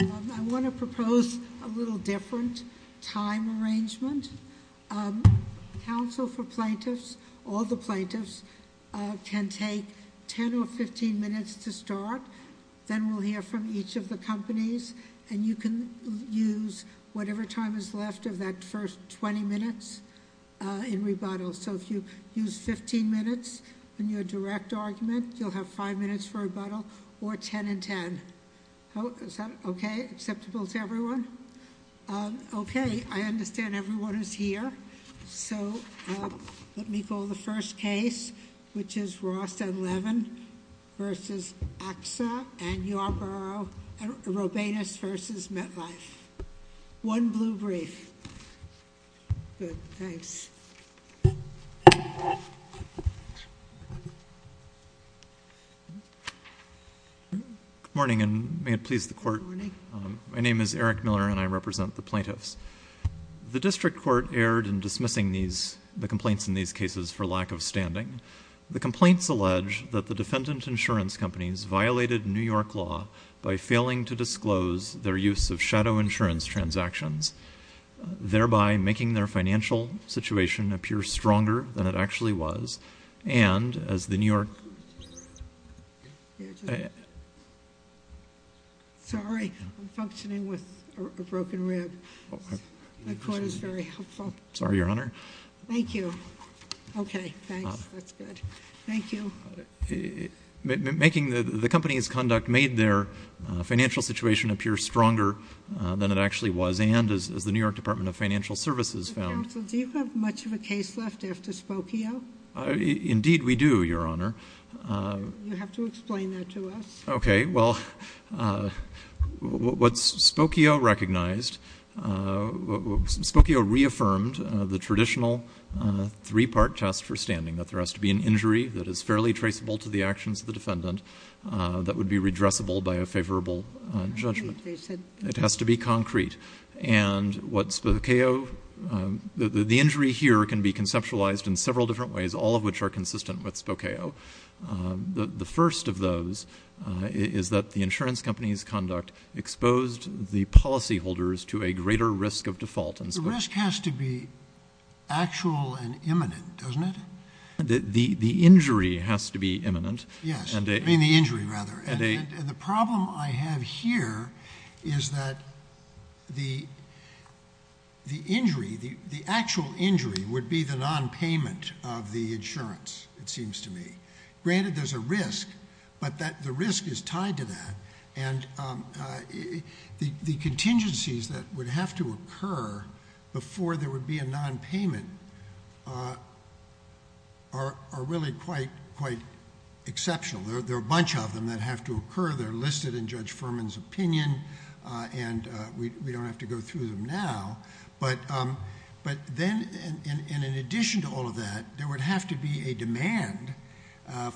I want to propose a little different time arrangement. Counsel for plaintiffs, all the plaintiffs, can take 10 or 15 minutes to start. Then we'll hear from each of the companies. And you can use whatever time is left of that first 20 minutes in rebuttal. So if you use 15 minutes in your direct argument, you'll have 5 minutes for rebuttal or 10 and 10. Is that okay, acceptable to everyone? Okay, I understand everyone is here. So let me call the first case, which is Ross and Levin v. AXA and Yarborough and Robanus v. MetLife. One blue brief. Good, thanks. Good morning and may it please the court. Good morning. My name is Eric Miller and I represent the plaintiffs. The district court erred in dismissing the complaints in these cases for lack of standing. The complaints allege that the defendant insurance companies violated New York law by failing to disclose their use of shadow insurance transactions, thereby making their financial situation appear stronger than it actually was. And as the New York- Sorry, I'm functioning with a broken rib. The court is very helpful. Sorry, Your Honor. Thank you. Okay, thanks. That's good. Thank you. Making the company's conduct made their financial situation appear stronger than it actually was and as the New York Department of Financial Services found- Counsel, do you have much of a case left after Spokio? Indeed we do, Your Honor. You have to explain that to us. Okay. Well, what Spokio recognized- Spokio reaffirmed the traditional three-part test for standing, that there has to be an injury that is fairly traceable to the actions of the defendant that would be redressable by a favorable judgment. It has to be concrete. And what Spokio- The injury here can be conceptualized in several different ways, all of which are consistent with Spokio. The first of those is that the insurance company's conduct exposed the policyholders to a greater risk of default in Spokio. The risk has to be actual and imminent, doesn't it? The injury has to be imminent. Yes, I mean the injury rather. And the problem I have here is that the injury, the actual injury would be the nonpayment of the insurance, it seems to me. Granted there's a risk, but the risk is tied to that. And the contingencies that would have to occur before there would be a nonpayment are really quite exceptional. There are a bunch of them that have to occur. They're listed in Judge Furman's opinion, and we don't have to go through them now. But then, and in addition to all of that, there would have to be a demand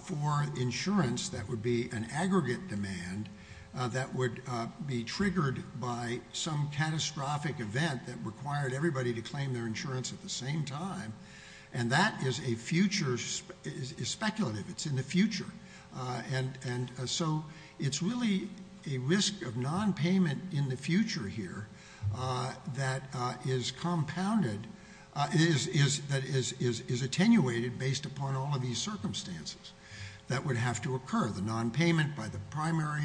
for insurance that would be an aggregate demand that would be triggered by some catastrophic event that required everybody to claim their insurance at the same time. And that is speculative. It's in the future. And so it's really a risk of nonpayment in the future here that is attenuated based upon all of these circumstances that would have to occur. The nonpayment by the primary,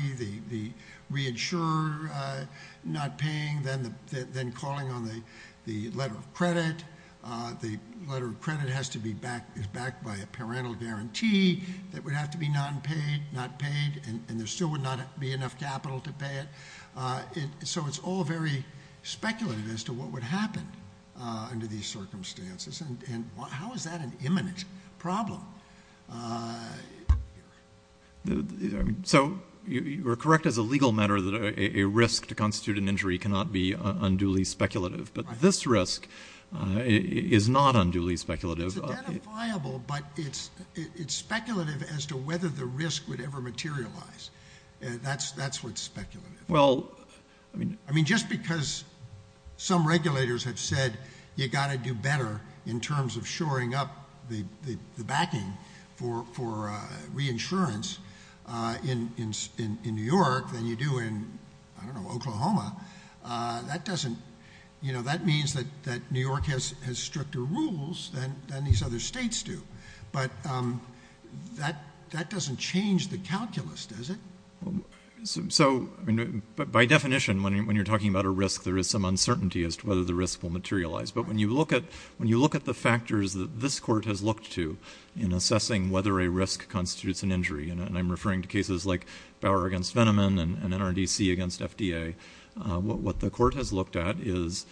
the reinsurer not paying, then calling on the letter of credit. The letter of credit is backed by a parental guarantee that would have to be nonpaid, not paid, and there still would not be enough capital to pay it. So it's all very speculative as to what would happen under these circumstances. And how is that an imminent problem? So you're correct as a legal matter that a risk to constitute an injury cannot be unduly speculative. But this risk is not unduly speculative. It's identifiable, but it's speculative as to whether the risk would ever materialize. That's what's speculative. I mean, just because some regulators have said you've got to do better in terms of shoring up the backing for reinsurance in New York than you do in, I don't know, Oklahoma, that means that New York has stricter rules than these other states do. But that doesn't change the calculus, does it? So by definition, when you're talking about a risk, there is some uncertainty as to whether the risk will materialize. But when you look at the factors that this court has looked to in assessing whether a risk constitutes an injury, and I'm referring to cases like Bauer against Veneman and NRDC against FDA, what the court has looked at is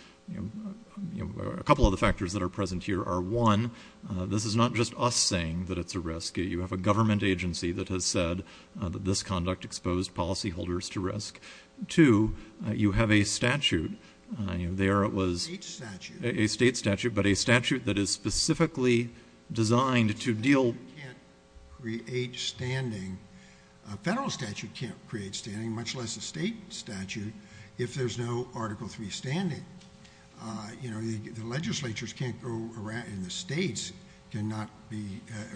a couple of the factors that are present here are, one, this is not just us saying that it's a risk. You have a government agency that has said that this conduct exposed policyholders to risk. Two, you have a statute. There it was a state statute, but a statute that is specifically designed to deal with risk. A federal statute can't create standing, much less a state statute, if there's no Article III standing. The legislatures can't go around, and the states cannot be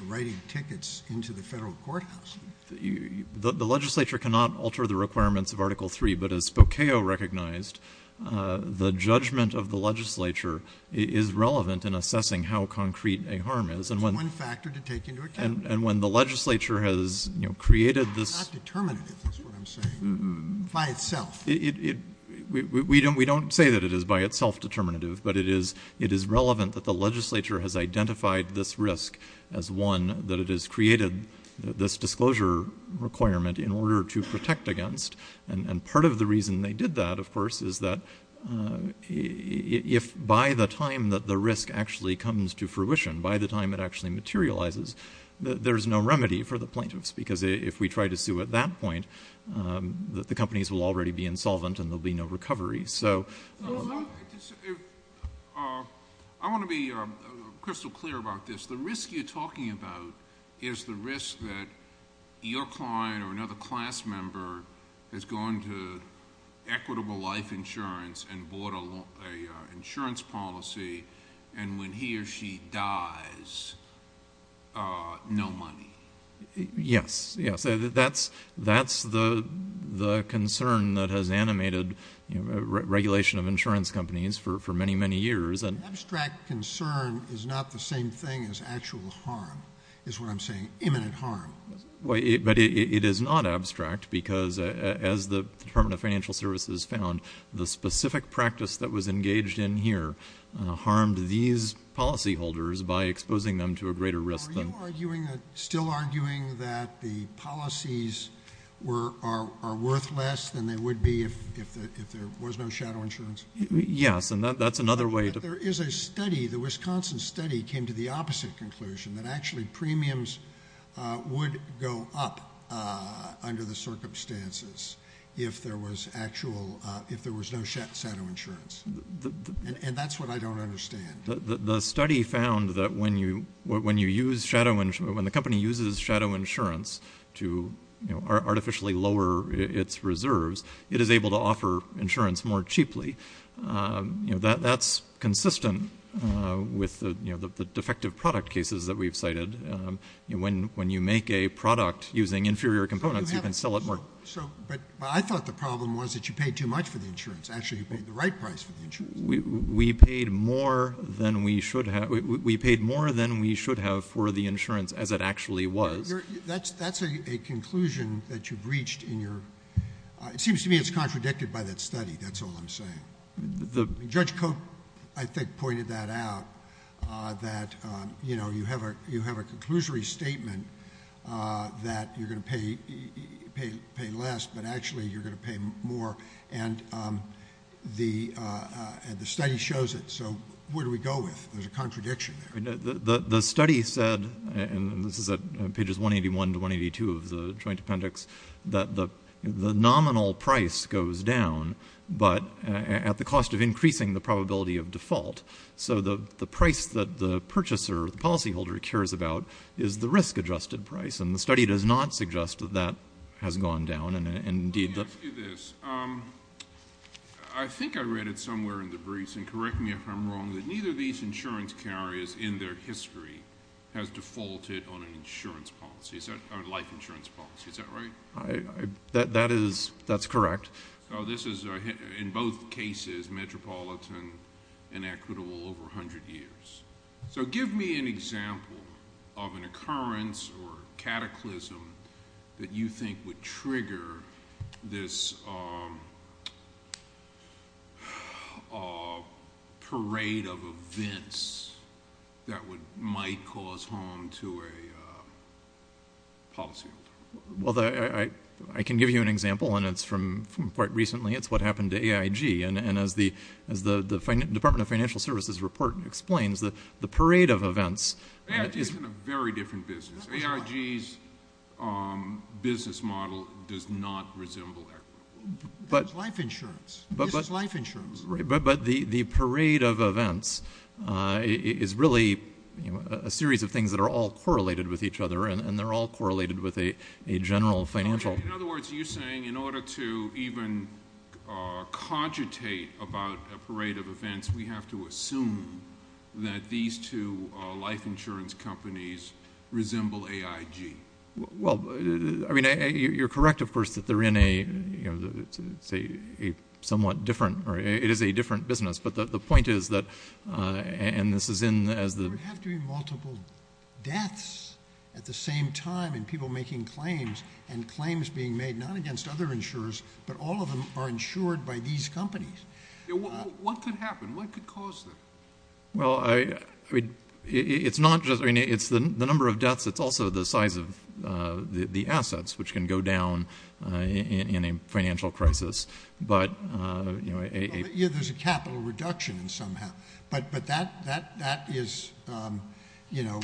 writing tickets into the federal courthouse. The legislature cannot alter the requirements of Article III, but as Spokeo recognized, the judgment of the legislature is relevant in assessing how concrete a harm is. It's one factor to take into account. And when the legislature has created this... It's not determinative, is what I'm saying, by itself. We don't say that it is by itself determinative, but it is relevant that the legislature has identified this risk as one, that it has created this disclosure requirement in order to protect against, and part of the reason they did that, of course, is that if by the time that the risk actually comes to fruition, by the time it actually materializes, there's no remedy for the plaintiffs, because if we try to sue at that point, the companies will already be insolvent, and there will be no recovery. So... I want to be crystal clear about this. The risk you're talking about is the risk that your client or another class member has gone to Equitable Life Insurance and bought an insurance policy, and when he or she dies, no money. Yes, yes. That's the concern that has animated regulation of insurance companies for many, many years. Abstract concern is not the same thing as actual harm, is what I'm saying, imminent harm. But it is not abstract, because as the Department of Financial Services found, the specific practice that was engaged in here harmed these policyholders by exposing them to a greater risk than... Are you still arguing that the policies are worth less than they would be if there was no shadow insurance? Yes, and that's another way... But there is a study, the Wisconsin study came to the opposite conclusion, that actually premiums would go up under the circumstances if there was no shadow insurance. And that's what I don't understand. The study found that when the company uses shadow insurance to artificially lower its reserves, it is able to offer insurance more cheaply. That's consistent with the defective product cases that we've cited. When you make a product using inferior components, you can sell it more... But I thought the problem was that you paid too much for the insurance. Actually, you paid the right price for the insurance. We paid more than we should have for the insurance, as it actually was. That's a conclusion that you've reached in your... It seems to me it's contradicted by that study. That's all I'm saying. Judge Koch, I think, pointed that out, that you have a conclusory statement that you're going to pay less, but actually you're going to pay more. And the study shows it. So where do we go with it? There's a contradiction there. The study said, and this is at pages 181 to 182 of the Joint Appendix, that the nominal price goes down but at the cost of increasing the probability of default. So the price that the purchaser or the policyholder cares about is the risk-adjusted price, and the study does not suggest that that has gone down. Let me ask you this. I think I read it somewhere in the briefs, and correct me if I'm wrong, that neither of these insurance carriers in their history has defaulted on an insurance policy, on a life insurance policy. Is that right? That is correct. So this is, in both cases, metropolitan and equitable over 100 years. So give me an example of an occurrence or cataclysm that you think would trigger this parade of events that might cause harm to a policyholder. Well, I can give you an example, and it's from quite recently. It's what happened to AIG. And as the Department of Financial Services report explains, the parade of events is... AIG is in a very different business. AIG's business model does not resemble equitable. There's life insurance. This is life insurance. But the parade of events is really a series of things that are all correlated with each other, and they're all correlated with a general financial... In other words, are you saying in order to even cogitate about a parade of events, we have to assume that these two life insurance companies resemble AIG? Well, I mean, you're correct, of course, that they're in a somewhat different... It is a different business. But the point is that... And this is in... There would have to be multiple deaths at the same time and people making claims and claims being made not against other insurers, but all of them are insured by these companies. What could happen? What could cause that? Well, I mean, it's not just... I mean, it's the number of deaths. It's also the size of the assets, which can go down in a financial crisis. But, you know... Yeah, there's a capital reduction somehow. But that is, you know...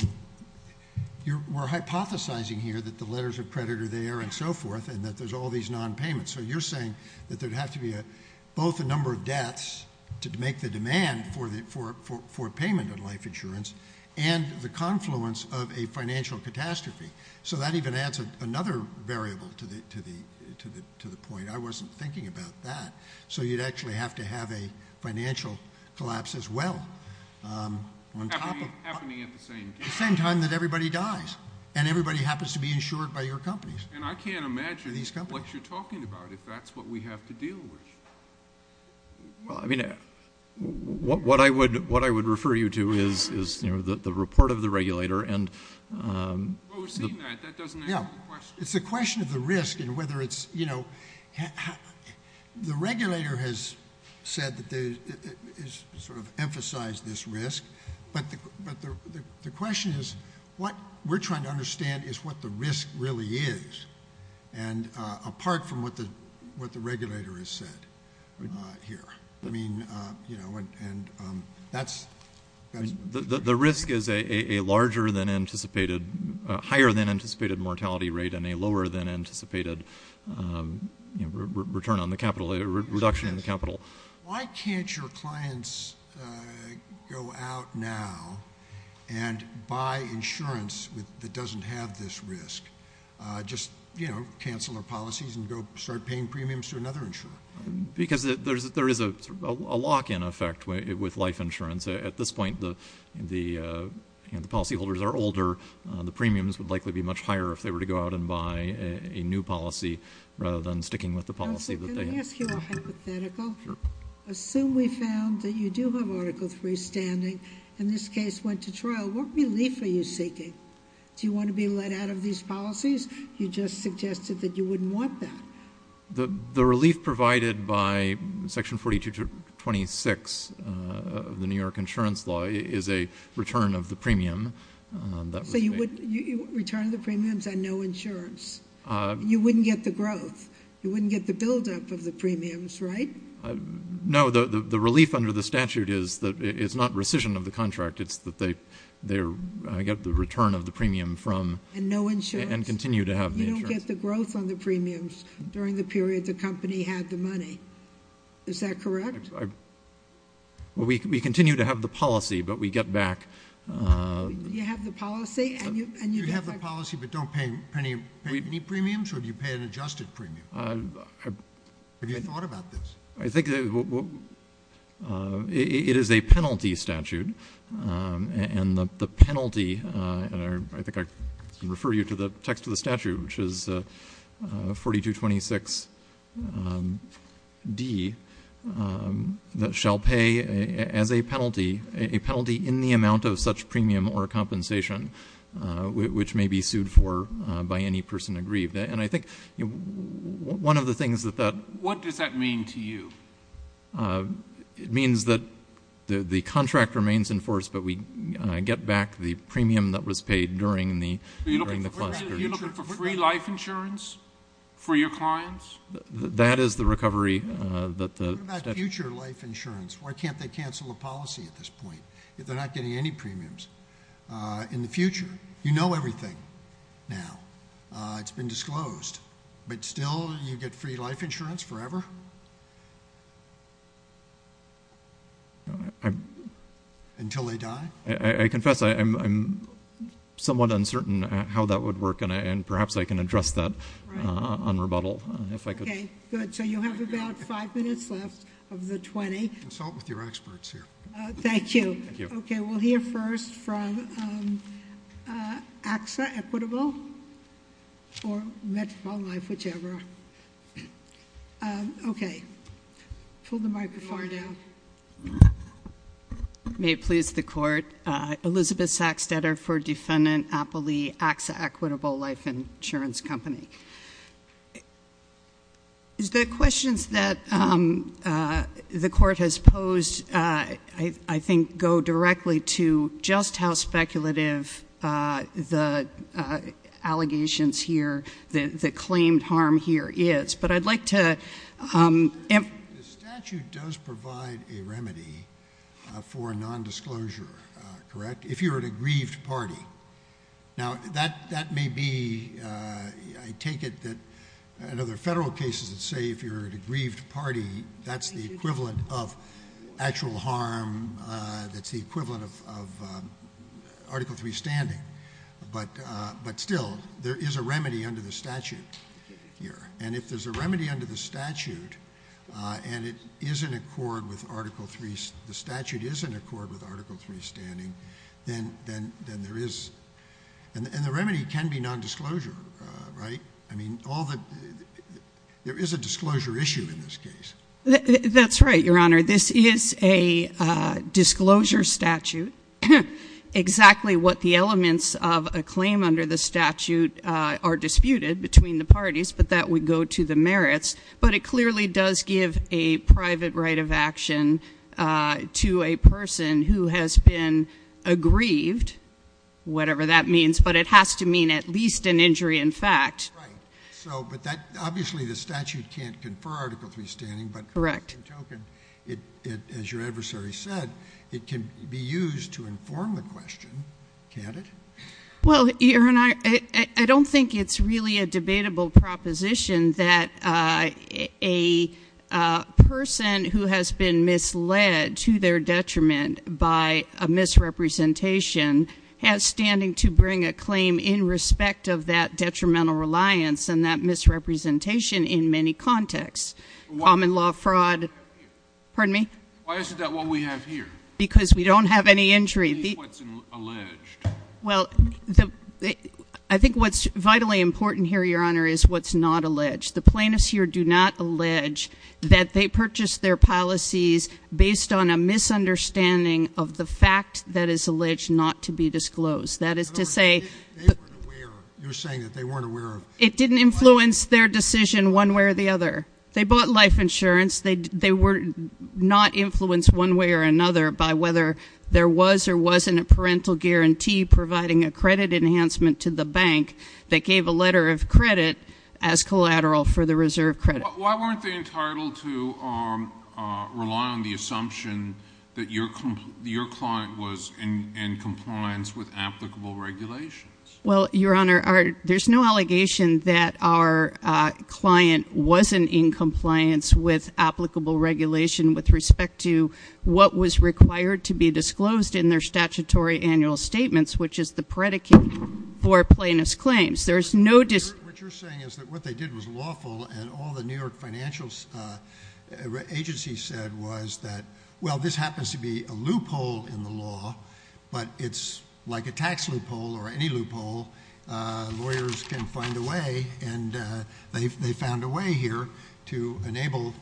We're hypothesising here that the letters of credit are there and so forth and that there's all these non-payments. So you're saying that there would have to be both the number of deaths to make the demand for payment of life insurance and the confluence of a financial catastrophe. So that even adds another variable to the point. I wasn't thinking about that. So you'd actually have to have a financial collapse as well. Happening at the same time. At the same time that everybody dies and everybody happens to be insured by your companies. And I can't imagine what you're talking about if that's what we have to deal with. Well, I mean, what I would refer you to is the report of the regulator and... Well, we've seen that. That doesn't answer the question. It's a question of the risk and whether it's, you know... The regulator has said that they sort of emphasise this risk. But the question is, what we're trying to understand is what the risk really is. And apart from what the regulator has said here. I mean, you know, and that's... The risk is a larger than anticipated... Higher than anticipated mortality rate and a lower than anticipated return on the capital. A reduction in the capital. Why can't your clients go out now and buy insurance that doesn't have this risk? Just, you know, cancel their policies and go start paying premiums to another insurer. Because there is a lock-in effect with life insurance. At this point, the policyholders are older. The premiums would likely be much higher if they were to go out and buy a new policy rather than sticking with the policy that they had. Can I ask you a hypothetical? Sure. Assume we found that you do have Article III standing and this case went to trial. What relief are you seeking? Do you want to be let out of these policies? You just suggested that you wouldn't want that. The relief provided by Section 42-26 of the New York Insurance Law is a return of the premium. So you would return the premiums and no insurance. You wouldn't get the growth. You wouldn't get the build-up of the premiums, right? No, the relief under the statute is that it's not rescission of the contract. It's that they get the return of the premium from... And no insurance. ...and continue to have the insurance. You don't get the growth on the premiums during the period the company had the money. Is that correct? We continue to have the policy, but we get back... You have the policy and you... Do you have the policy but don't pay any premiums or do you pay an adjusted premium? Have you thought about this? I think... It is a penalty statute, and the penalty... I think I can refer you to the text of the statute, which is 4226D, that shall pay as a penalty, a penalty in the amount of such premium or compensation, which may be sued for by any person aggrieved. And I think one of the things that that... What does that mean to you? It means that the contract remains in force, but we get back the premium that was paid during the... Are you looking for free life insurance for your clients? That is the recovery that the statute... What about future life insurance? Why can't they cancel the policy at this point if they're not getting any premiums in the future? You know everything now. It's been disclosed. But still you get free life insurance forever? Until they die? I confess I'm somewhat uncertain how that would work, and perhaps I can address that on rebuttal, if I could. Okay, good. So you have about five minutes left of the 20. Consult with your experts here. Thank you. Okay, we'll hear first from AXA, Equitable, or Metropolitan Life, whichever. Okay. Pull the microphone down. May it please the Court, Elizabeth Sachs, debtor for Defendant Applee, AXA Equitable Life Insurance Company. The questions that the Court has posed, I think, go directly to just how speculative the allegations here, the claimed harm here is. But I'd like to... The statute does provide a remedy for nondisclosure, correct, if you're an aggrieved party. Now, that may be... I take it that in other federal cases that say if you're an aggrieved party, that's the equivalent of actual harm, that's the equivalent of Article III standing. But still, there is a remedy under the statute here. And if there's a remedy under the statute and it is in accord with Article III... The statute is in accord with Article III standing, then there is... And the remedy can be nondisclosure, right? I mean, all the... There is a disclosure issue in this case. That's right, Your Honour. This is a disclosure statute. Exactly what the elements of a claim under the statute are disputed between the parties, but that would go to the merits. But it clearly does give a private right of action to a person who has been aggrieved, whatever that means, but it has to mean at least an injury in fact. Right. But obviously the statute can't confer Article III standing. Correct. As your adversary said, it can be used to inform the question, can't it? Well, Your Honour, I don't think it's really a debatable proposition that a person who has been misled to their detriment by a misrepresentation has standing to bring a claim in respect of that detrimental reliance and that misrepresentation in many contexts. Common law fraud... Pardon me? Why isn't that what we have here? Because we don't have any injury. It is what's alleged. Well, I think what's vitally important here, Your Honour, is what's not alleged. The plaintiffs here do not allege that they purchased their policies based on a misunderstanding of the fact that is alleged not to be disclosed. That is to say... You're saying that they weren't aware of... It didn't influence their decision one way or the other. They bought life insurance. They were not influenced one way or another by whether there was or wasn't a parental guarantee providing a credit enhancement to the bank that gave a letter of credit as collateral for the reserve credit. Why weren't they entitled to rely on the assumption that your client was in compliance with applicable regulations? Well, Your Honour, there's no allegation that our client wasn't in compliance with applicable regulation with respect to what was required to be disclosed in their statutory annual statements, which is the predicate for plaintiff's claims. There's no... What you're saying is that what they did was lawful and all the New York financial agency said was that, well, this happens to be a loophole in the law, but it's like a tax loophole or any loophole. Lawyers can find a way, and they found a way here to enable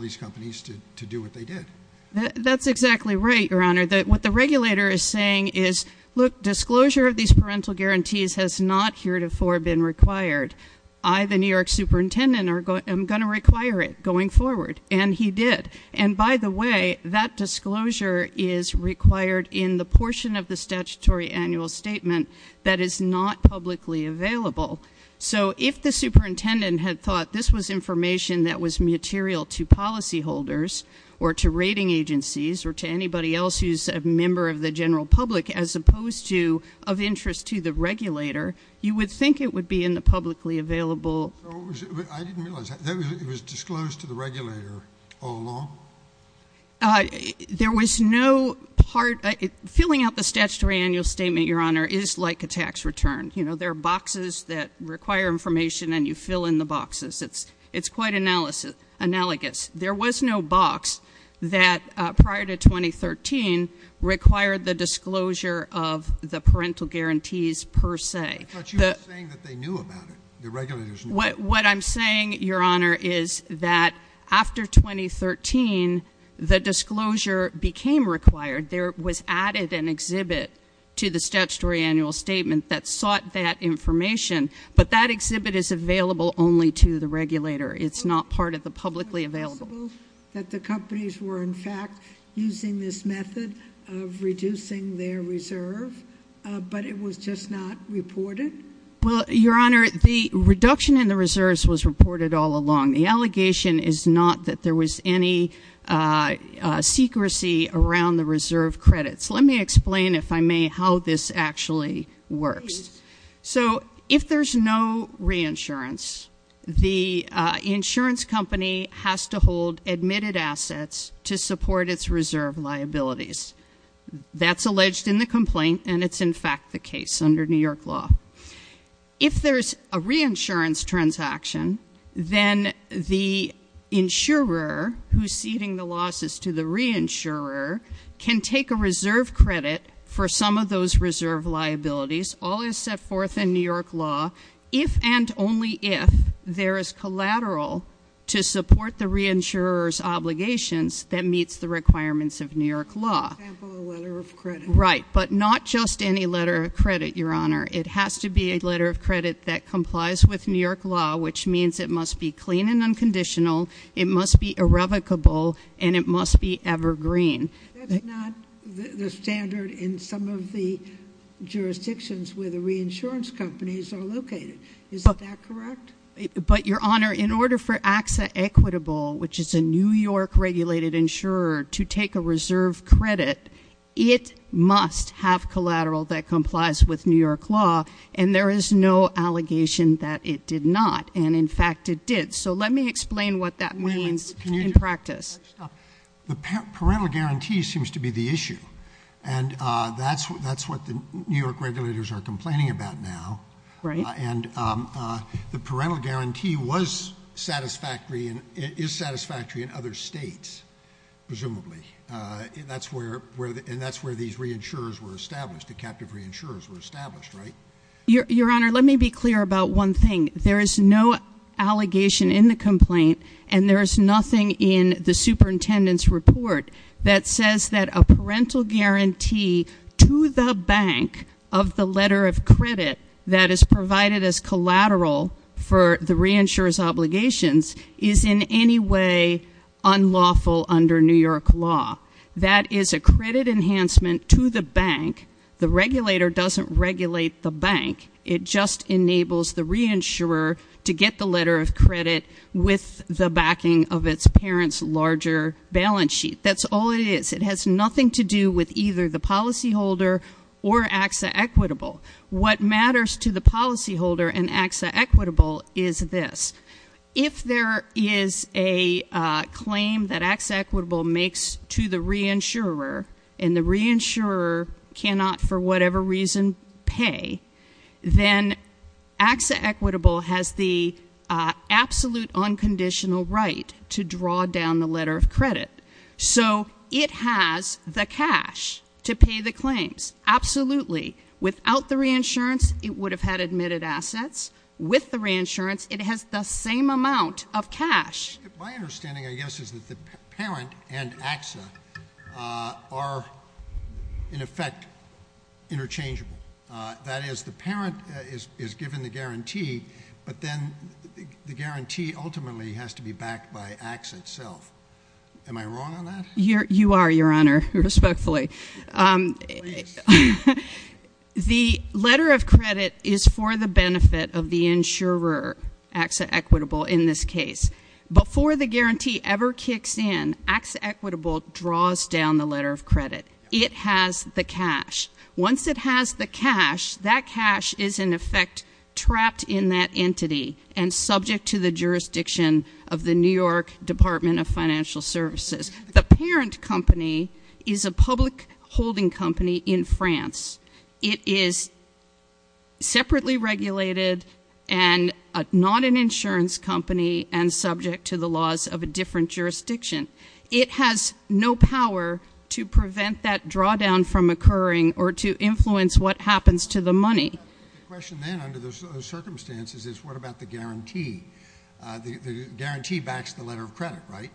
these companies to do what they did. That's exactly right, Your Honour. What the regulator is saying is, look, disclosure of these parental guarantees has not heretofore been required. I, the New York superintendent, am going to require it going forward, and he did. And by the way, that disclosure is required in the portion of the statutory annual statement that is not publicly available. So if the superintendent had thought this was information that was material to policyholders or to rating agencies or to anybody else who's a member of the general public as opposed to of interest to the regulator, you would think it would be in the publicly available... I didn't realize that. It was disclosed to the regulator all along? There was no part... Filling out the statutory annual statement, Your Honour, is like a tax return. You know, there are boxes that require information, and you fill in the boxes. It's quite analogous. There was no box that, prior to 2013, required the disclosure of the parental guarantees per se. I thought you were saying that they knew about it. The regulators knew about it. What I'm saying, Your Honour, is that after 2013, the disclosure became required. There was added an exhibit to the statutory annual statement that sought that information, but that exhibit is available only to the regulator. It's not part of the publicly available... Was it possible that the companies were, in fact, using this method of reducing their reserve, but it was just not reported? Well, Your Honour, the reduction in the reserves was reported all along. The allegation is not that there was any secrecy around the reserve credits. Let me explain, if I may, how this actually works. So if there's no reinsurance, the insurance company has to hold admitted assets to support its reserve liabilities. That's alleged in the complaint, and it's, in fact, the case under New York law. If there's a reinsurance transaction, then the insurer who's ceding the losses to the reinsurer can take a reserve credit for some of those reserve liabilities. All is set forth in New York law, if and only if there is collateral to support the reinsurer's obligations that meets the requirements of New York law. For example, a letter of credit. Right, but not just any letter of credit, Your Honour. It has to be a letter of credit that complies with New York law, which means it must be clean and unconditional, it must be irrevocable, and it must be evergreen. That's not the standard in some of the jurisdictions where the reinsurance companies are located. Is that correct? But, Your Honour, in order for AXA Equitable, which is a New York-regulated insurer, to take a reserve credit, it must have collateral that complies with New York law, and there is no allegation that it did not, and, in fact, it did. So let me explain what that means in practice. The parental guarantee seems to be the issue, and that's what the New York regulators are complaining about now. Right. And the parental guarantee was satisfactory, is satisfactory in other states, presumably. And that's where these reinsurers were established, the captive reinsurers were established, right? Your Honour, let me be clear about one thing. There is no allegation in the complaint, and there is nothing in the superintendent's report that says that a parental guarantee to the bank of the letter of credit that is provided as collateral for the reinsurer's obligations is in any way unlawful under New York law. That is a credit enhancement to the bank. The regulator doesn't regulate the bank. It just enables the reinsurer to get the letter of credit with the backing of its parent's larger balance sheet. That's all it is. It has nothing to do with either the policyholder or AXA Equitable. What matters to the policyholder and AXA Equitable is this. If there is a claim that AXA Equitable makes to the reinsurer and the reinsurer cannot for whatever reason pay, then AXA Equitable has the absolute unconditional right to draw down the letter of credit. So it has the cash to pay the claims, absolutely. Without the reinsurance, it would have had admitted assets. With the reinsurance, it has the same amount of cash. My understanding, I guess, is that the parent and AXA are, in effect, interchangeable. That is, the parent is given the guarantee, but then the guarantee ultimately has to be backed by AXA itself. Am I wrong on that? You are, Your Honor, respectfully. The letter of credit is for the benefit of the insurer, AXA Equitable, in this case. Before the guarantee ever kicks in, AXA Equitable draws down the letter of credit. It has the cash. Once it has the cash, that cash is, in effect, trapped in that entity and subject to the jurisdiction of the New York Department of Financial Services. The parent company is a public holding company in France. It is separately regulated and not an insurance company and subject to the laws of a different jurisdiction. It has no power to prevent that drawdown from occurring or to influence what happens to the money. The question then, under those circumstances, is what about the guarantee? The guarantee backs the letter of credit, right?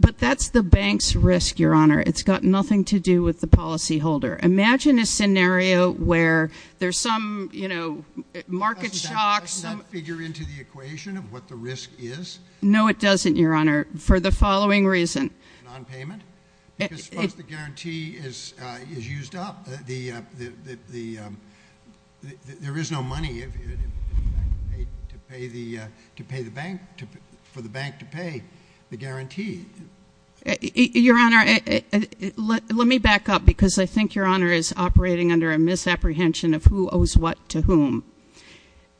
But that's the bank's risk, Your Honor. It's got nothing to do with the policyholder. Imagine a scenario where there's some, you know, market shock. Doesn't that figure into the equation of what the risk is? No, it doesn't, Your Honor, for the following reason. Nonpayment? Because once the guarantee is used up, there is no money for the bank to pay the guarantee. Your Honor, let me back up, because I think Your Honor is operating under a misapprehension of who owes what to whom.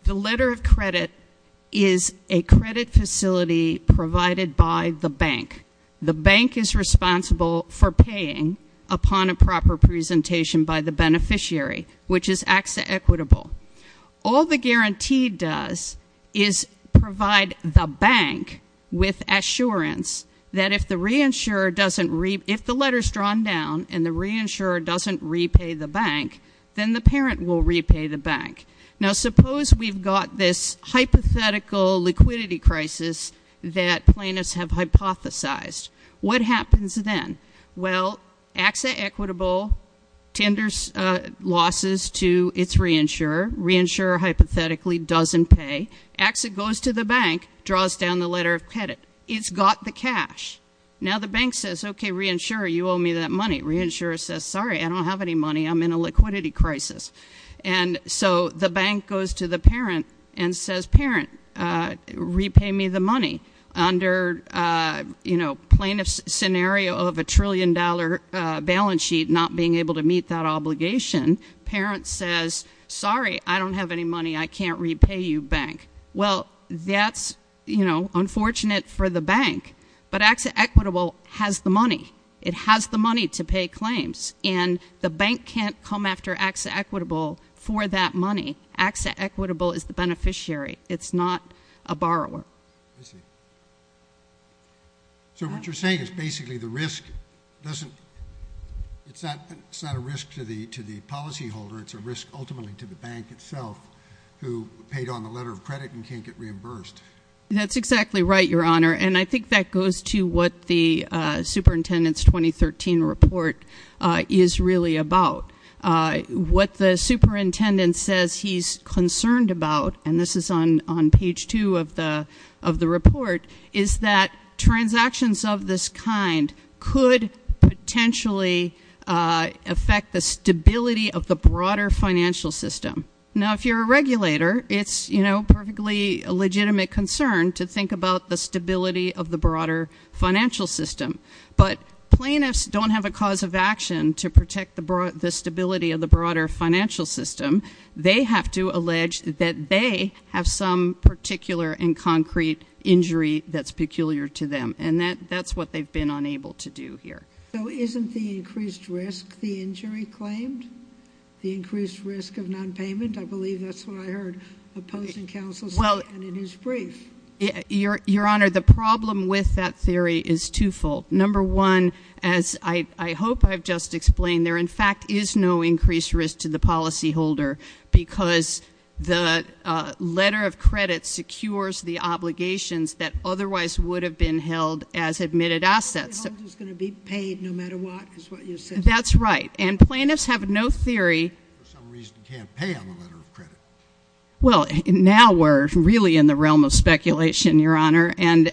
The letter of credit is a credit facility provided by the bank. The bank is responsible for paying upon a proper presentation by the beneficiary, which is acts equitable. All the guarantee does is provide the bank with assurance that if the letter is drawn down and the reinsurer doesn't repay the bank, then the parent will repay the bank. Now, suppose we've got this hypothetical liquidity crisis that plaintiffs have hypothesized. What happens then? Well, acts equitable, tenders losses to its reinsurer. Reinsurer hypothetically doesn't pay. Acts it goes to the bank, draws down the letter of credit. It's got the cash. Now the bank says, okay, reinsurer, you owe me that money. Reinsurer says, sorry, I don't have any money. I'm in a liquidity crisis. And so the bank goes to the parent and says, parent, repay me the money. Under plaintiff's scenario of a trillion-dollar balance sheet not being able to meet that obligation, parent says, sorry, I don't have any money. I can't repay you, bank. Well, that's unfortunate for the bank. But acts equitable has the money. It has the money to pay claims. And the bank can't come after acts equitable for that money. Acts equitable is the beneficiary. It's not a borrower. I see. So what you're saying is basically the risk doesn't ‑‑ it's not a risk to the policyholder. It's a risk ultimately to the bank itself who paid on the letter of credit and can't get reimbursed. That's exactly right, Your Honor. And I think that goes to what the superintendent's 2013 report is really about. What the superintendent says he's concerned about, and this is on page 2 of the report, is that transactions of this kind could potentially affect the stability of the broader financial system. Now, if you're a regulator, it's, you know, perfectly legitimate concern to think about the stability of the broader financial system. But plaintiffs don't have a cause of action to protect the stability of the broader financial system. They have to allege that they have some particular and concrete injury that's peculiar to them. And that's what they've been unable to do here. So isn't the increased risk the injury claimed? The increased risk of nonpayment? I believe that's what I heard opposing counsel say in his brief. Your Honor, the problem with that theory is twofold. Number one, as I hope I've just explained, there in fact is no increased risk to the policyholder because the letter of credit secures the obligations that otherwise would have been held as admitted assets. The policyholder's going to be paid no matter what is what you're saying. That's right. And plaintiffs have no theory. For some reason can't pay on the letter of credit. Well, now we're really in the realm of speculation, Your Honor. And,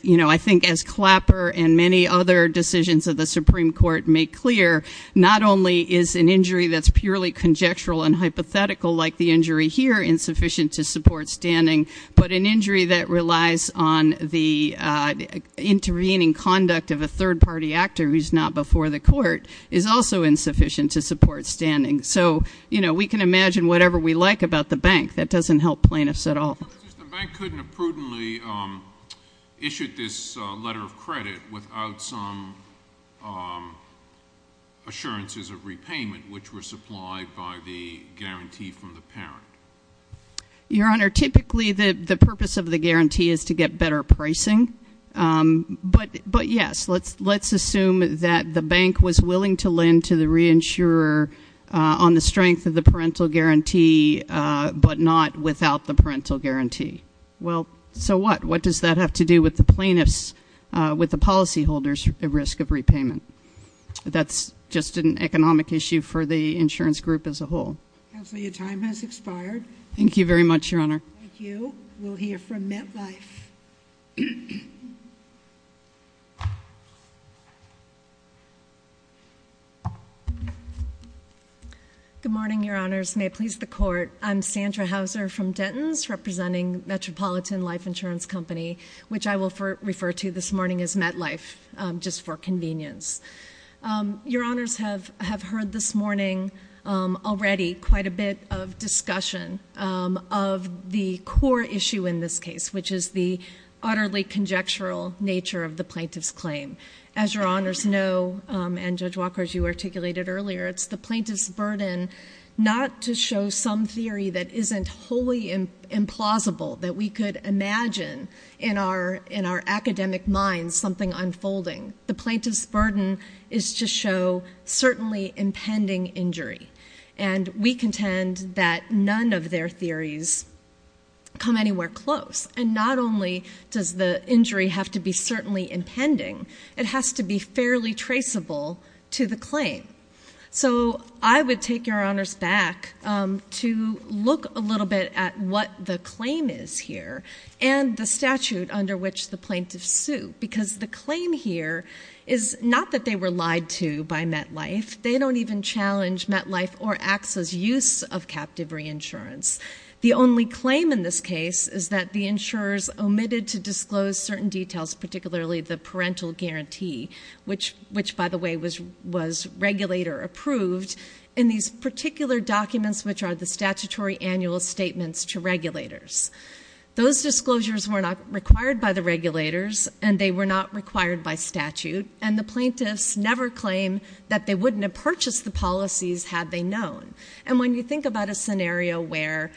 you know, I think as Clapper and many other decisions of the Supreme Court make clear, not only is an injury that's purely conjectural and hypothetical like the injury here insufficient to support standing, but an injury that relies on the intervening conduct of a third-party actor who's not before the court is also insufficient to support standing. So, you know, we can imagine whatever we like about the bank. That doesn't help plaintiffs at all. The bank couldn't have prudently issued this letter of credit without some assurances of repayment, which were supplied by the guarantee from the parent. Your Honor, typically the purpose of the guarantee is to get better pricing. But, yes, let's assume that the bank was willing to lend to the reinsurer on the strength of the parental guarantee, but not without the parental guarantee. Well, so what? What does that have to do with the plaintiffs, with the policyholders' risk of repayment? That's just an economic issue for the insurance group as a whole. Counselor, your time has expired. Thank you very much, Your Honor. Thank you. We'll hear from MetLife. Good morning, Your Honors. May it please the Court. I'm Sandra Hauser from Dentons, representing Metropolitan Life Insurance Company, which I will refer to this morning as MetLife, just for convenience. Your Honors have heard this morning already quite a bit of discussion of the core issue in this case, which is the utterly conjectural nature of the plaintiff's claim. As Your Honors know, and Judge Walker, as you articulated earlier, it's the plaintiff's burden not to show some theory that isn't wholly implausible, that we could imagine in our academic minds something unfolding. The plaintiff's burden is to show certainly impending injury, and we contend that none of their theories come anywhere close. And not only does the injury have to be certainly impending, it has to be fairly traceable to the claim. So I would take Your Honors back to look a little bit at what the claim is here and the statute under which the plaintiff sued, because the claim here is not that they were lied to by MetLife. They don't even challenge MetLife or AXA's use of captive reinsurance. The only claim in this case is that the insurers omitted to disclose certain details, particularly the parental guarantee, which, by the way, was regulator-approved, in these particular documents, which are the statutory annual statements to regulators. Those disclosures were not required by the regulators, and they were not required by statute, and the plaintiffs never claim that they wouldn't have purchased the policies had they known. And when you think about a scenario where,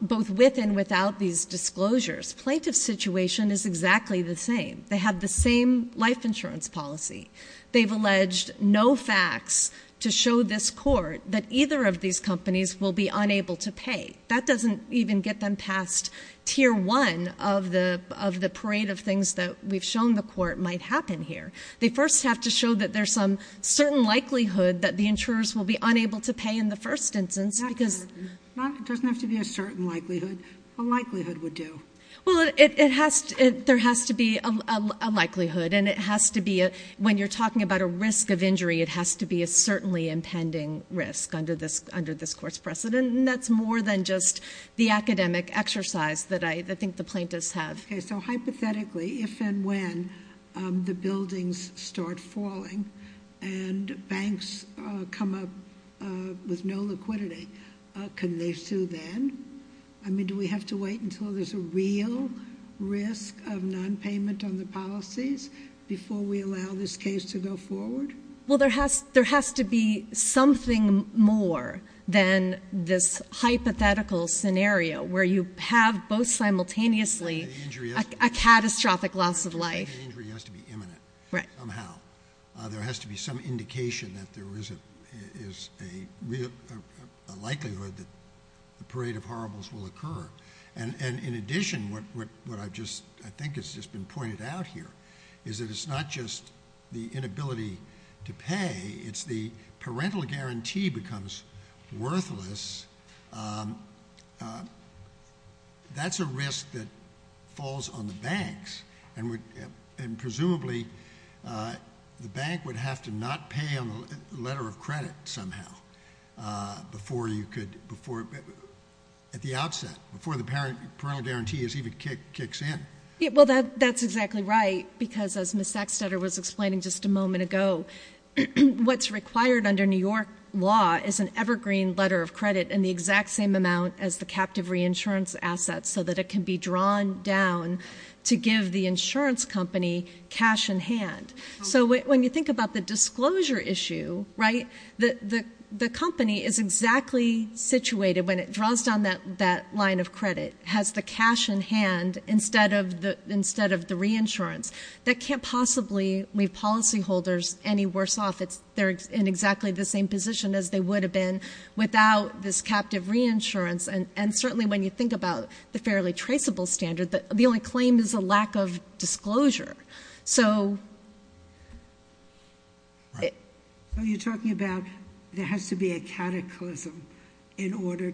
both with and without these disclosures, plaintiff's situation is exactly the same. They have the same life insurance policy. They've alleged no facts to show this court that either of these companies will be unable to pay. That doesn't even get them past Tier 1 of the parade of things that we've shown the court might happen here. They first have to show that there's some certain likelihood that the insurers will be unable to pay in the first instance. It doesn't have to be a certain likelihood. A likelihood would do. Well, there has to be a likelihood, and when you're talking about a risk of injury, it has to be a certainly impending risk under this court's precedent, and that's more than just the academic exercise that I think the plaintiffs have. Okay, so hypothetically, if and when the buildings start falling and banks come up with no liquidity, can they sue then? I mean, do we have to wait until there's a real risk of nonpayment on the policies before we allow this case to go forward? Well, there has to be something more than this hypothetical scenario where you have both simultaneously a catastrophic loss of life. The injury has to be imminent somehow. There has to be some indication that there is a likelihood that the parade of horribles will occur. In addition, what I think has just been pointed out here is that it's not just the inability to pay. It's the parental guarantee becomes worthless. That's a risk that falls on the banks, and presumably the bank would have to not pay on the letter of credit somehow at the outset, before the parental guarantee even kicks in. Well, that's exactly right, because as Ms. Sacksteder was explaining just a moment ago, what's required under New York law is an evergreen letter of credit in the exact same amount as the captive reinsurance asset so that it can be drawn down to give the insurance company cash in hand. So when you think about the disclosure issue, right, the company is exactly situated, when it draws down that line of credit, has the cash in hand instead of the reinsurance. That can't possibly leave policyholders any worse off. They're in exactly the same position as they would have been without this captive reinsurance. And certainly when you think about the fairly traceable standard, the only claim is a lack of disclosure. So... Right. You're talking about there has to be a cataclysm in order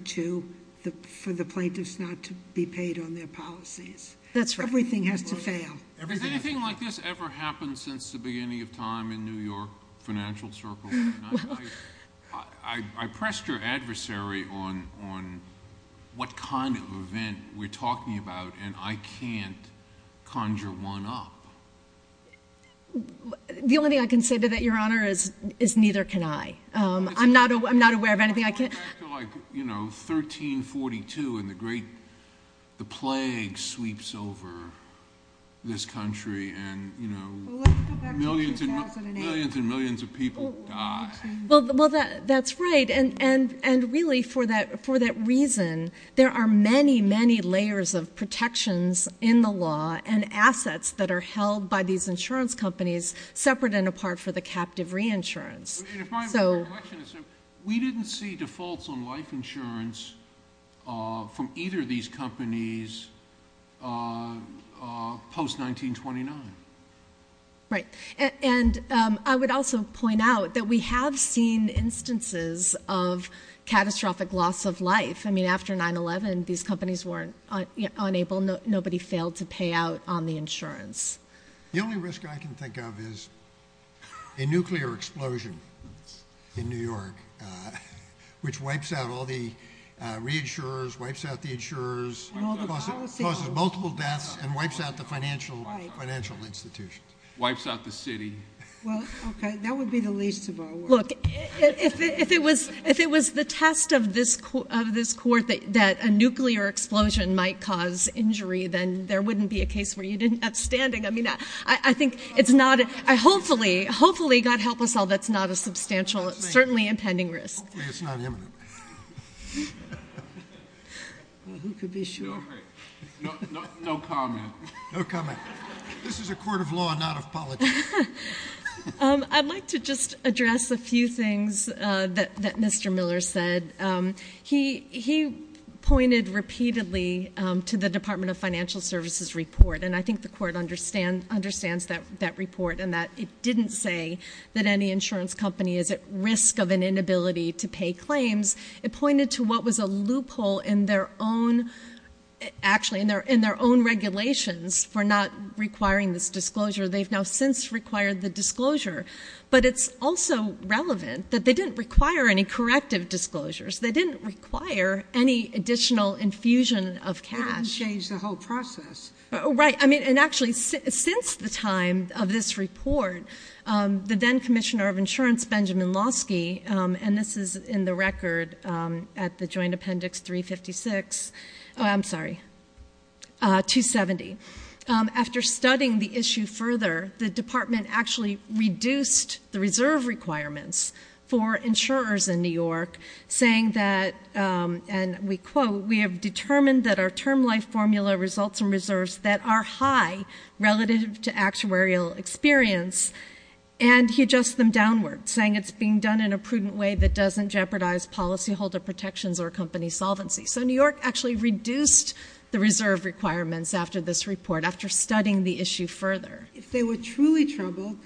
for the plaintiffs not to be paid on their policies. That's right. Everything has to fail. Has anything like this ever happened since the beginning of time in New York financial circles? I pressed your adversary on what kind of event we're talking about, and I can't conjure one up. The only thing I can say to that, Your Honor, is neither can I. I'm not aware of anything I can't... 1342 and the plague sweeps over this country and millions and millions of people die. Well, that's right. And really for that reason, there are many, many layers of protections in the law and assets that are held by these insurance companies separate and apart for the captive reinsurance. We didn't see defaults on life insurance from either of these companies post-1929. Right. And I would also point out that we have seen instances of catastrophic loss of life. I mean, after 9-11, these companies were unable. Nobody failed to pay out on the insurance. The only risk I can think of is a nuclear explosion in New York, which wipes out all the reinsurers, wipes out the insurers, causes multiple deaths and wipes out the financial institutions. Wipes out the city. Well, OK, that would be the least of our worries. Look, if it was the test of this court that a nuclear explosion might cause injury, then there wouldn't be a case where you didn't have standing. I mean, I think it's not a – hopefully, hopefully, God help us all, that's not a substantial, certainly impending risk. Hopefully it's not imminent. Well, who could be sure? No comment. No comment. This is a court of law, not a politics. I'd like to just address a few things that Mr. Miller said. He pointed repeatedly to the Department of Financial Services report, and I think the court understands that report and that it didn't say that any insurance company is at risk of an inability to pay claims. It pointed to what was a loophole in their own – actually in their own regulations for not requiring this disclosure. They've now since required the disclosure. But it's also relevant that they didn't require any corrective disclosures. They didn't require any additional infusion of cash. They didn't change the whole process. Right. I mean, and actually since the time of this report, the then Commissioner of Insurance, Benjamin Losky, and this is in the record at the Joint Appendix 356 – oh, I'm sorry, 270. After studying the issue further, the department actually reduced the reserve requirements for insurers in New York, saying that, and we quote, we have determined that our term life formula results in reserves that are high relative to actuarial experience. And he adjusts them downward, saying it's being done in a prudent way that doesn't jeopardize policyholder protections or company solvency. So New York actually reduced the reserve requirements after this report, after studying the issue further. If they were truly troubled,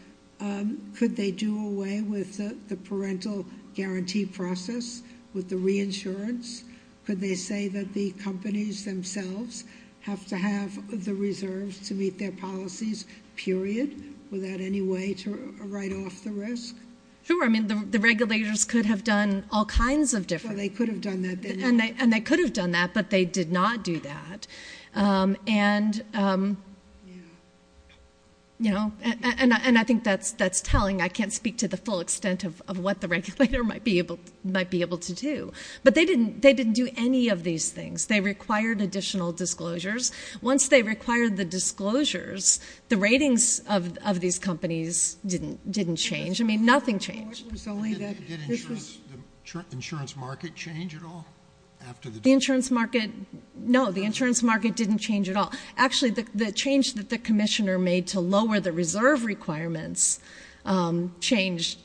could they do away with the parental guarantee process with the reinsurance? Could they say that the companies themselves have to have the reserves to meet their policies, period, without any way to write off the risk? Sure. I mean, the regulators could have done all kinds of different – No, they could have done that. And they could have done that, but they did not do that. And, you know, and I think that's telling. I can't speak to the full extent of what the regulator might be able to do. But they didn't do any of these things. They required additional disclosures. Once they required the disclosures, the ratings of these companies didn't change. I mean, nothing changed. Did the insurance market change at all after the disclosures? No, the insurance market didn't change at all. Actually, the change that the commissioner made to lower the reserve requirements changed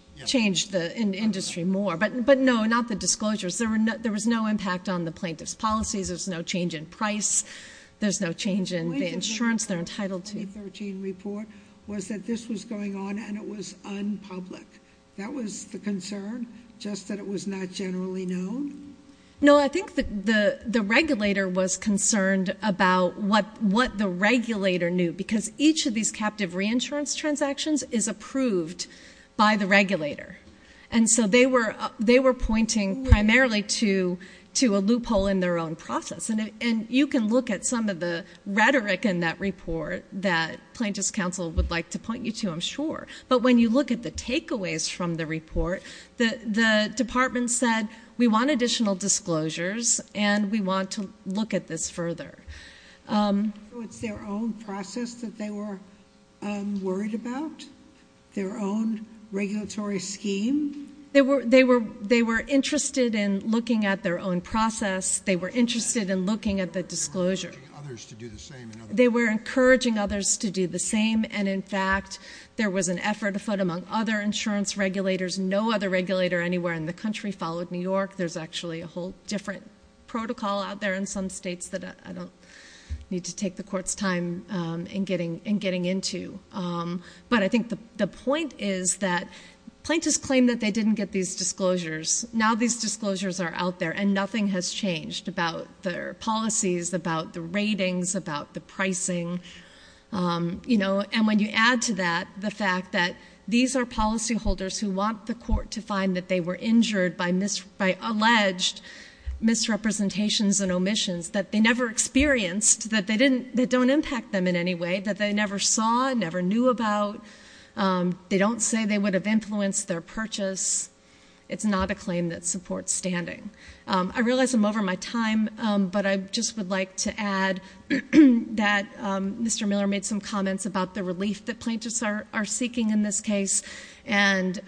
the industry more. But, no, not the disclosures. There was no impact on the plaintiff's policies. There's no change in price. There's no change in the insurance they're entitled to. was that this was going on and it was unpublic. That was the concern, just that it was not generally known? No, I think the regulator was concerned about what the regulator knew because each of these captive reinsurance transactions is approved by the regulator. And so they were pointing primarily to a loophole in their own process. And you can look at some of the rhetoric in that report that Plaintiff's Counsel would like to point you to, I'm sure. But when you look at the takeaways from the report, the department said, we want additional disclosures and we want to look at this further. So it's their own process that they were worried about, their own regulatory scheme? They were interested in looking at their own process. They were interested in looking at the disclosure. They were encouraging others to do the same. They were encouraging others to do the same. And, in fact, there was an effort afoot among other insurance regulators. No other regulator anywhere in the country followed New York. There's actually a whole different protocol out there in some states that I don't need to take the court's time in getting into. But I think the point is that plaintiffs claim that they didn't get these disclosures. Now these disclosures are out there and nothing has changed about their policies, about the ratings, about the pricing. And when you add to that the fact that these are policyholders who want the court to find that they were injured by alleged misrepresentations and omissions that they never experienced, that they don't impact them in any way, that they never saw, never knew about. They don't say they would have influenced their purchase. It's not a claim that supports standing. I realize I'm over my time, but I just would like to add that Mr. Miller made some comments about the relief that plaintiffs are seeking in this case. And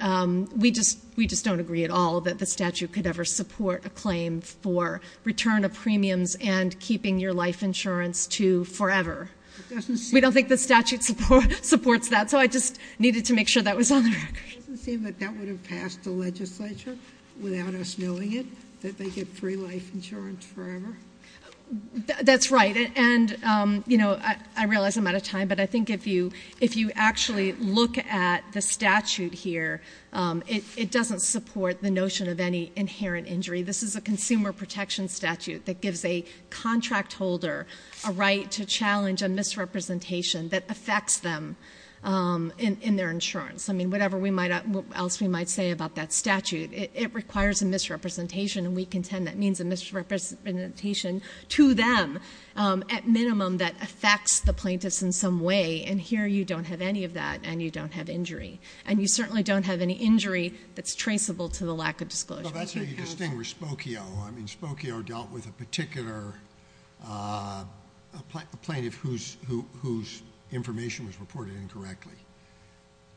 we just don't agree at all that the statute could ever support a claim for return of premiums and keeping your life insurance to forever. We don't think the statute supports that, so I just needed to make sure that was on the record. It doesn't seem that that would have passed the legislature without us knowing it, that they get free life insurance forever. That's right. And I realize I'm out of time, but I think if you actually look at the statute here, it doesn't support the notion of any inherent injury. This is a consumer protection statute that gives a contract holder a right to challenge a misrepresentation that affects them in their insurance. I mean, whatever else we might say about that statute, it requires a misrepresentation. And we contend that means a misrepresentation to them, at minimum, that affects the plaintiffs in some way. And here you don't have any of that, and you don't have injury. And you certainly don't have any injury that's traceable to the lack of disclosure. Well, that's where you distinguish Spokio. I mean, Spokio dealt with a particular plaintiff whose information was reported incorrectly.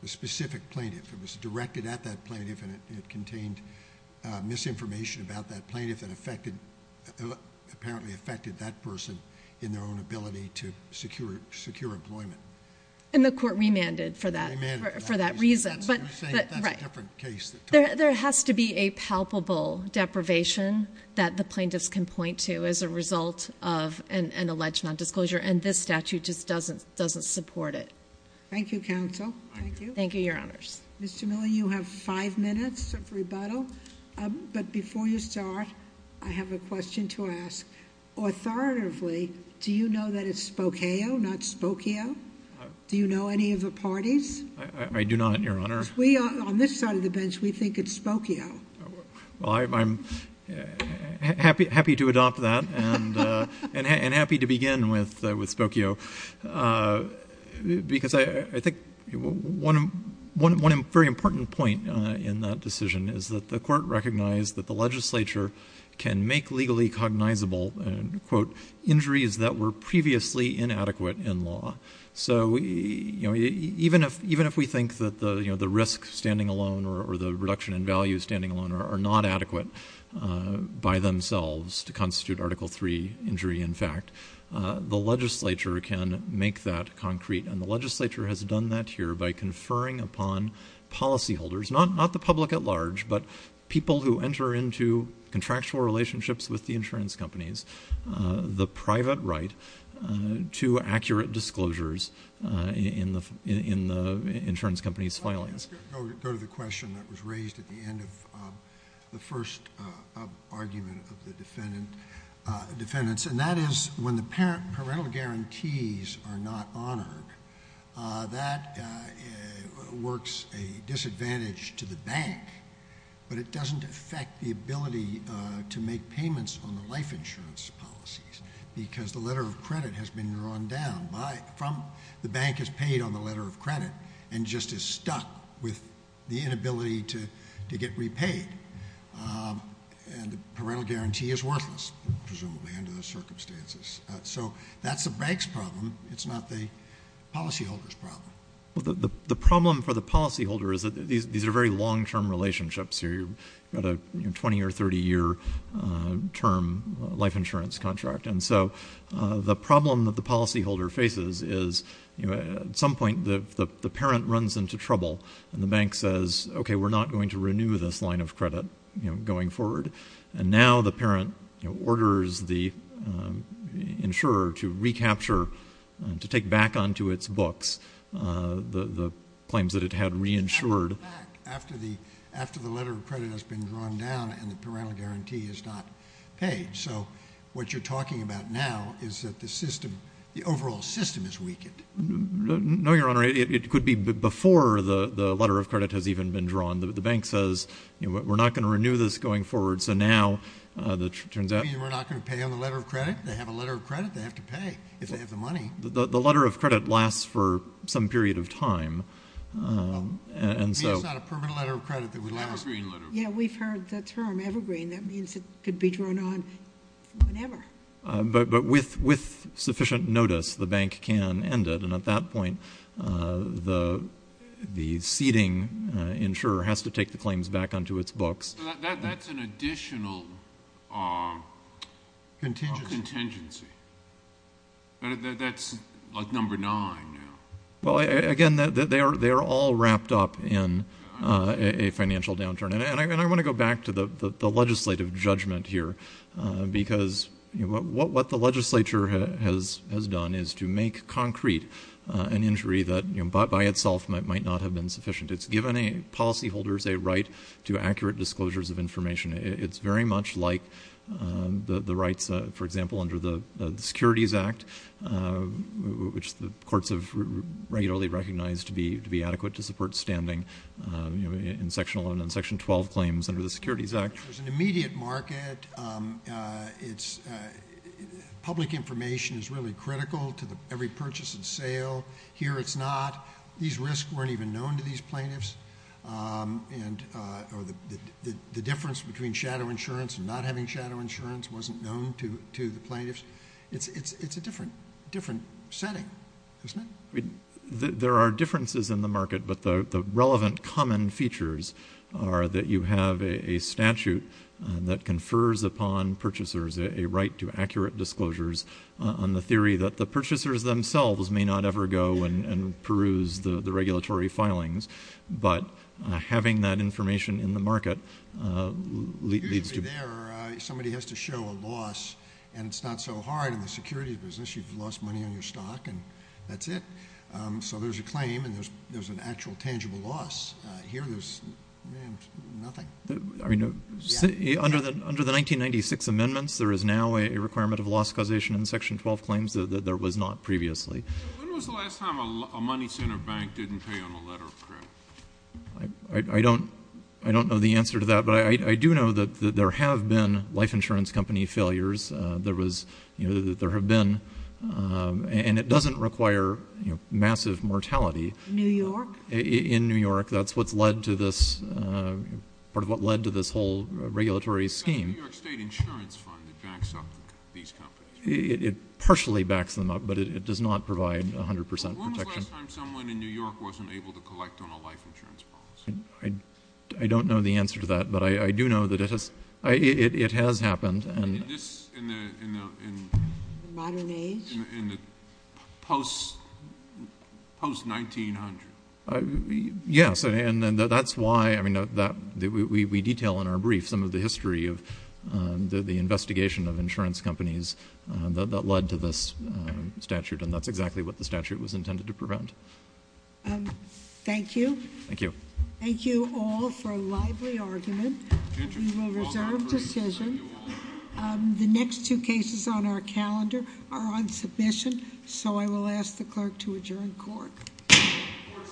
A specific plaintiff. It was directed at that plaintiff, and it contained misinformation about that plaintiff that apparently affected that person in their own ability to secure employment. And the court remanded for that reason. You're saying that that's a different case. There has to be a palpable deprivation that the plaintiffs can point to as a result of an alleged nondisclosure, and this statute just doesn't support it. Thank you, counsel. Thank you. Thank you, Your Honors. Mr. Miller, you have five minutes of rebuttal. But before you start, I have a question to ask. Authoritatively, do you know that it's Spokio, not Spokio? Do you know any of the parties? I do not, Your Honor. On this side of the bench, we think it's Spokio. Well, I'm happy to adopt that and happy to begin with Spokio. Because I think one very important point in that decision is that the court recognized that the legislature can make legally cognizable, quote, injuries that were previously inadequate in law. So even if we think that the risk standing alone or the reduction in value standing alone are not adequate by themselves to constitute Article III injury, in fact, the legislature can make that concrete. And the legislature has done that here by conferring upon policyholders, not the public at large, but people who enter into contractual relationships with the insurance companies, the private right to accurate disclosures in the insurance company's filings. Let's go to the question that was raised at the end of the first argument of the defendants. And that is, when the parental guarantees are not honored, that works a disadvantage to the bank, but it doesn't affect the ability to make payments on the life insurance policies, because the letter of credit has been drawn down from the bank has paid on the letter of credit and just is stuck with the inability to get repaid. And the parental guarantee is worthless, presumably, under those circumstances. So that's the bank's problem. It's not the policyholder's problem. The problem for the policyholder is that these are very long-term relationships here. You've got a 20- or 30-year term life insurance contract. And so the problem that the policyholder faces is, at some point, the parent runs into trouble, and the bank says, okay, we're not going to renew this line of credit going forward. And now the parent orders the insurer to recapture, to take back onto its books the claims that it had reinsured. After the letter of credit has been drawn down and the parental guarantee is not paid. So what you're talking about now is that the system, the overall system is weakened. No, Your Honor, it could be before the letter of credit has even been drawn. The bank says, you know what, we're not going to renew this going forward. So now it turns out. You mean we're not going to pay on the letter of credit? They have a letter of credit they have to pay if they have the money. The letter of credit lasts for some period of time. It's not a permanent letter of credit that would last. Yeah, we've heard the term evergreen. That means it could be drawn on whenever. But with sufficient notice, the bank can end it. And at that point, the ceding insurer has to take the claims back onto its books. That's an additional contingency. That's like number nine now. Well, again, they are all wrapped up in a financial downturn. And I want to go back to the legislative judgment here because what the legislature has done is to make concrete an injury that by itself might not have been sufficient. It's given policyholders a right to accurate disclosures of information. It's very much like the rights, for example, under the Securities Act, which the courts have regularly recognized to be adequate to support standing in Section 11 and Section 12 claims under the Securities Act. There's an immediate market. Public information is really critical to every purchase and sale. Here it's not. These risks weren't even known to these plaintiffs. The difference between shadow insurance and not having shadow insurance wasn't known to the plaintiffs. It's a different setting, isn't it? There are differences in the market, but the relevant common features are that you have a statute that confers upon purchasers a right to accurate disclosures on the theory that the purchasers themselves may not ever go and peruse the regulatory filings. But having that information in the market leads to… Somebody has to show a loss, and it's not so hard in the security business. You've lost money on your stock, and that's it. So there's a claim, and there's an actual tangible loss. Here there's nothing. I mean, under the 1996 amendments, there is now a requirement of loss causation in Section 12 claims that there was not previously. When was the last time a money center bank didn't pay on a letter of credit? I don't know the answer to that, but I do know that there have been life insurance company failures. There have been, and it doesn't require massive mortality. New York? In New York. That's part of what led to this whole regulatory scheme. The New York State Insurance Fund backs up these companies. It partially backs them up, but it does not provide 100 percent protection. When was the last time someone in New York wasn't able to collect on a life insurance promise? I don't know the answer to that, but I do know that it has happened. In the modern age? In the post-1900s. Yes, and that's why we detail in our brief some of the history of the investigation of insurance companies that led to this statute, and that's exactly what the statute was intended to prevent. Thank you. Thank you. Thank you all for a lively argument. We will reserve decision. The next two cases on our calendar are on submission, so I will ask the clerk to adjourn court. Court is adjourned.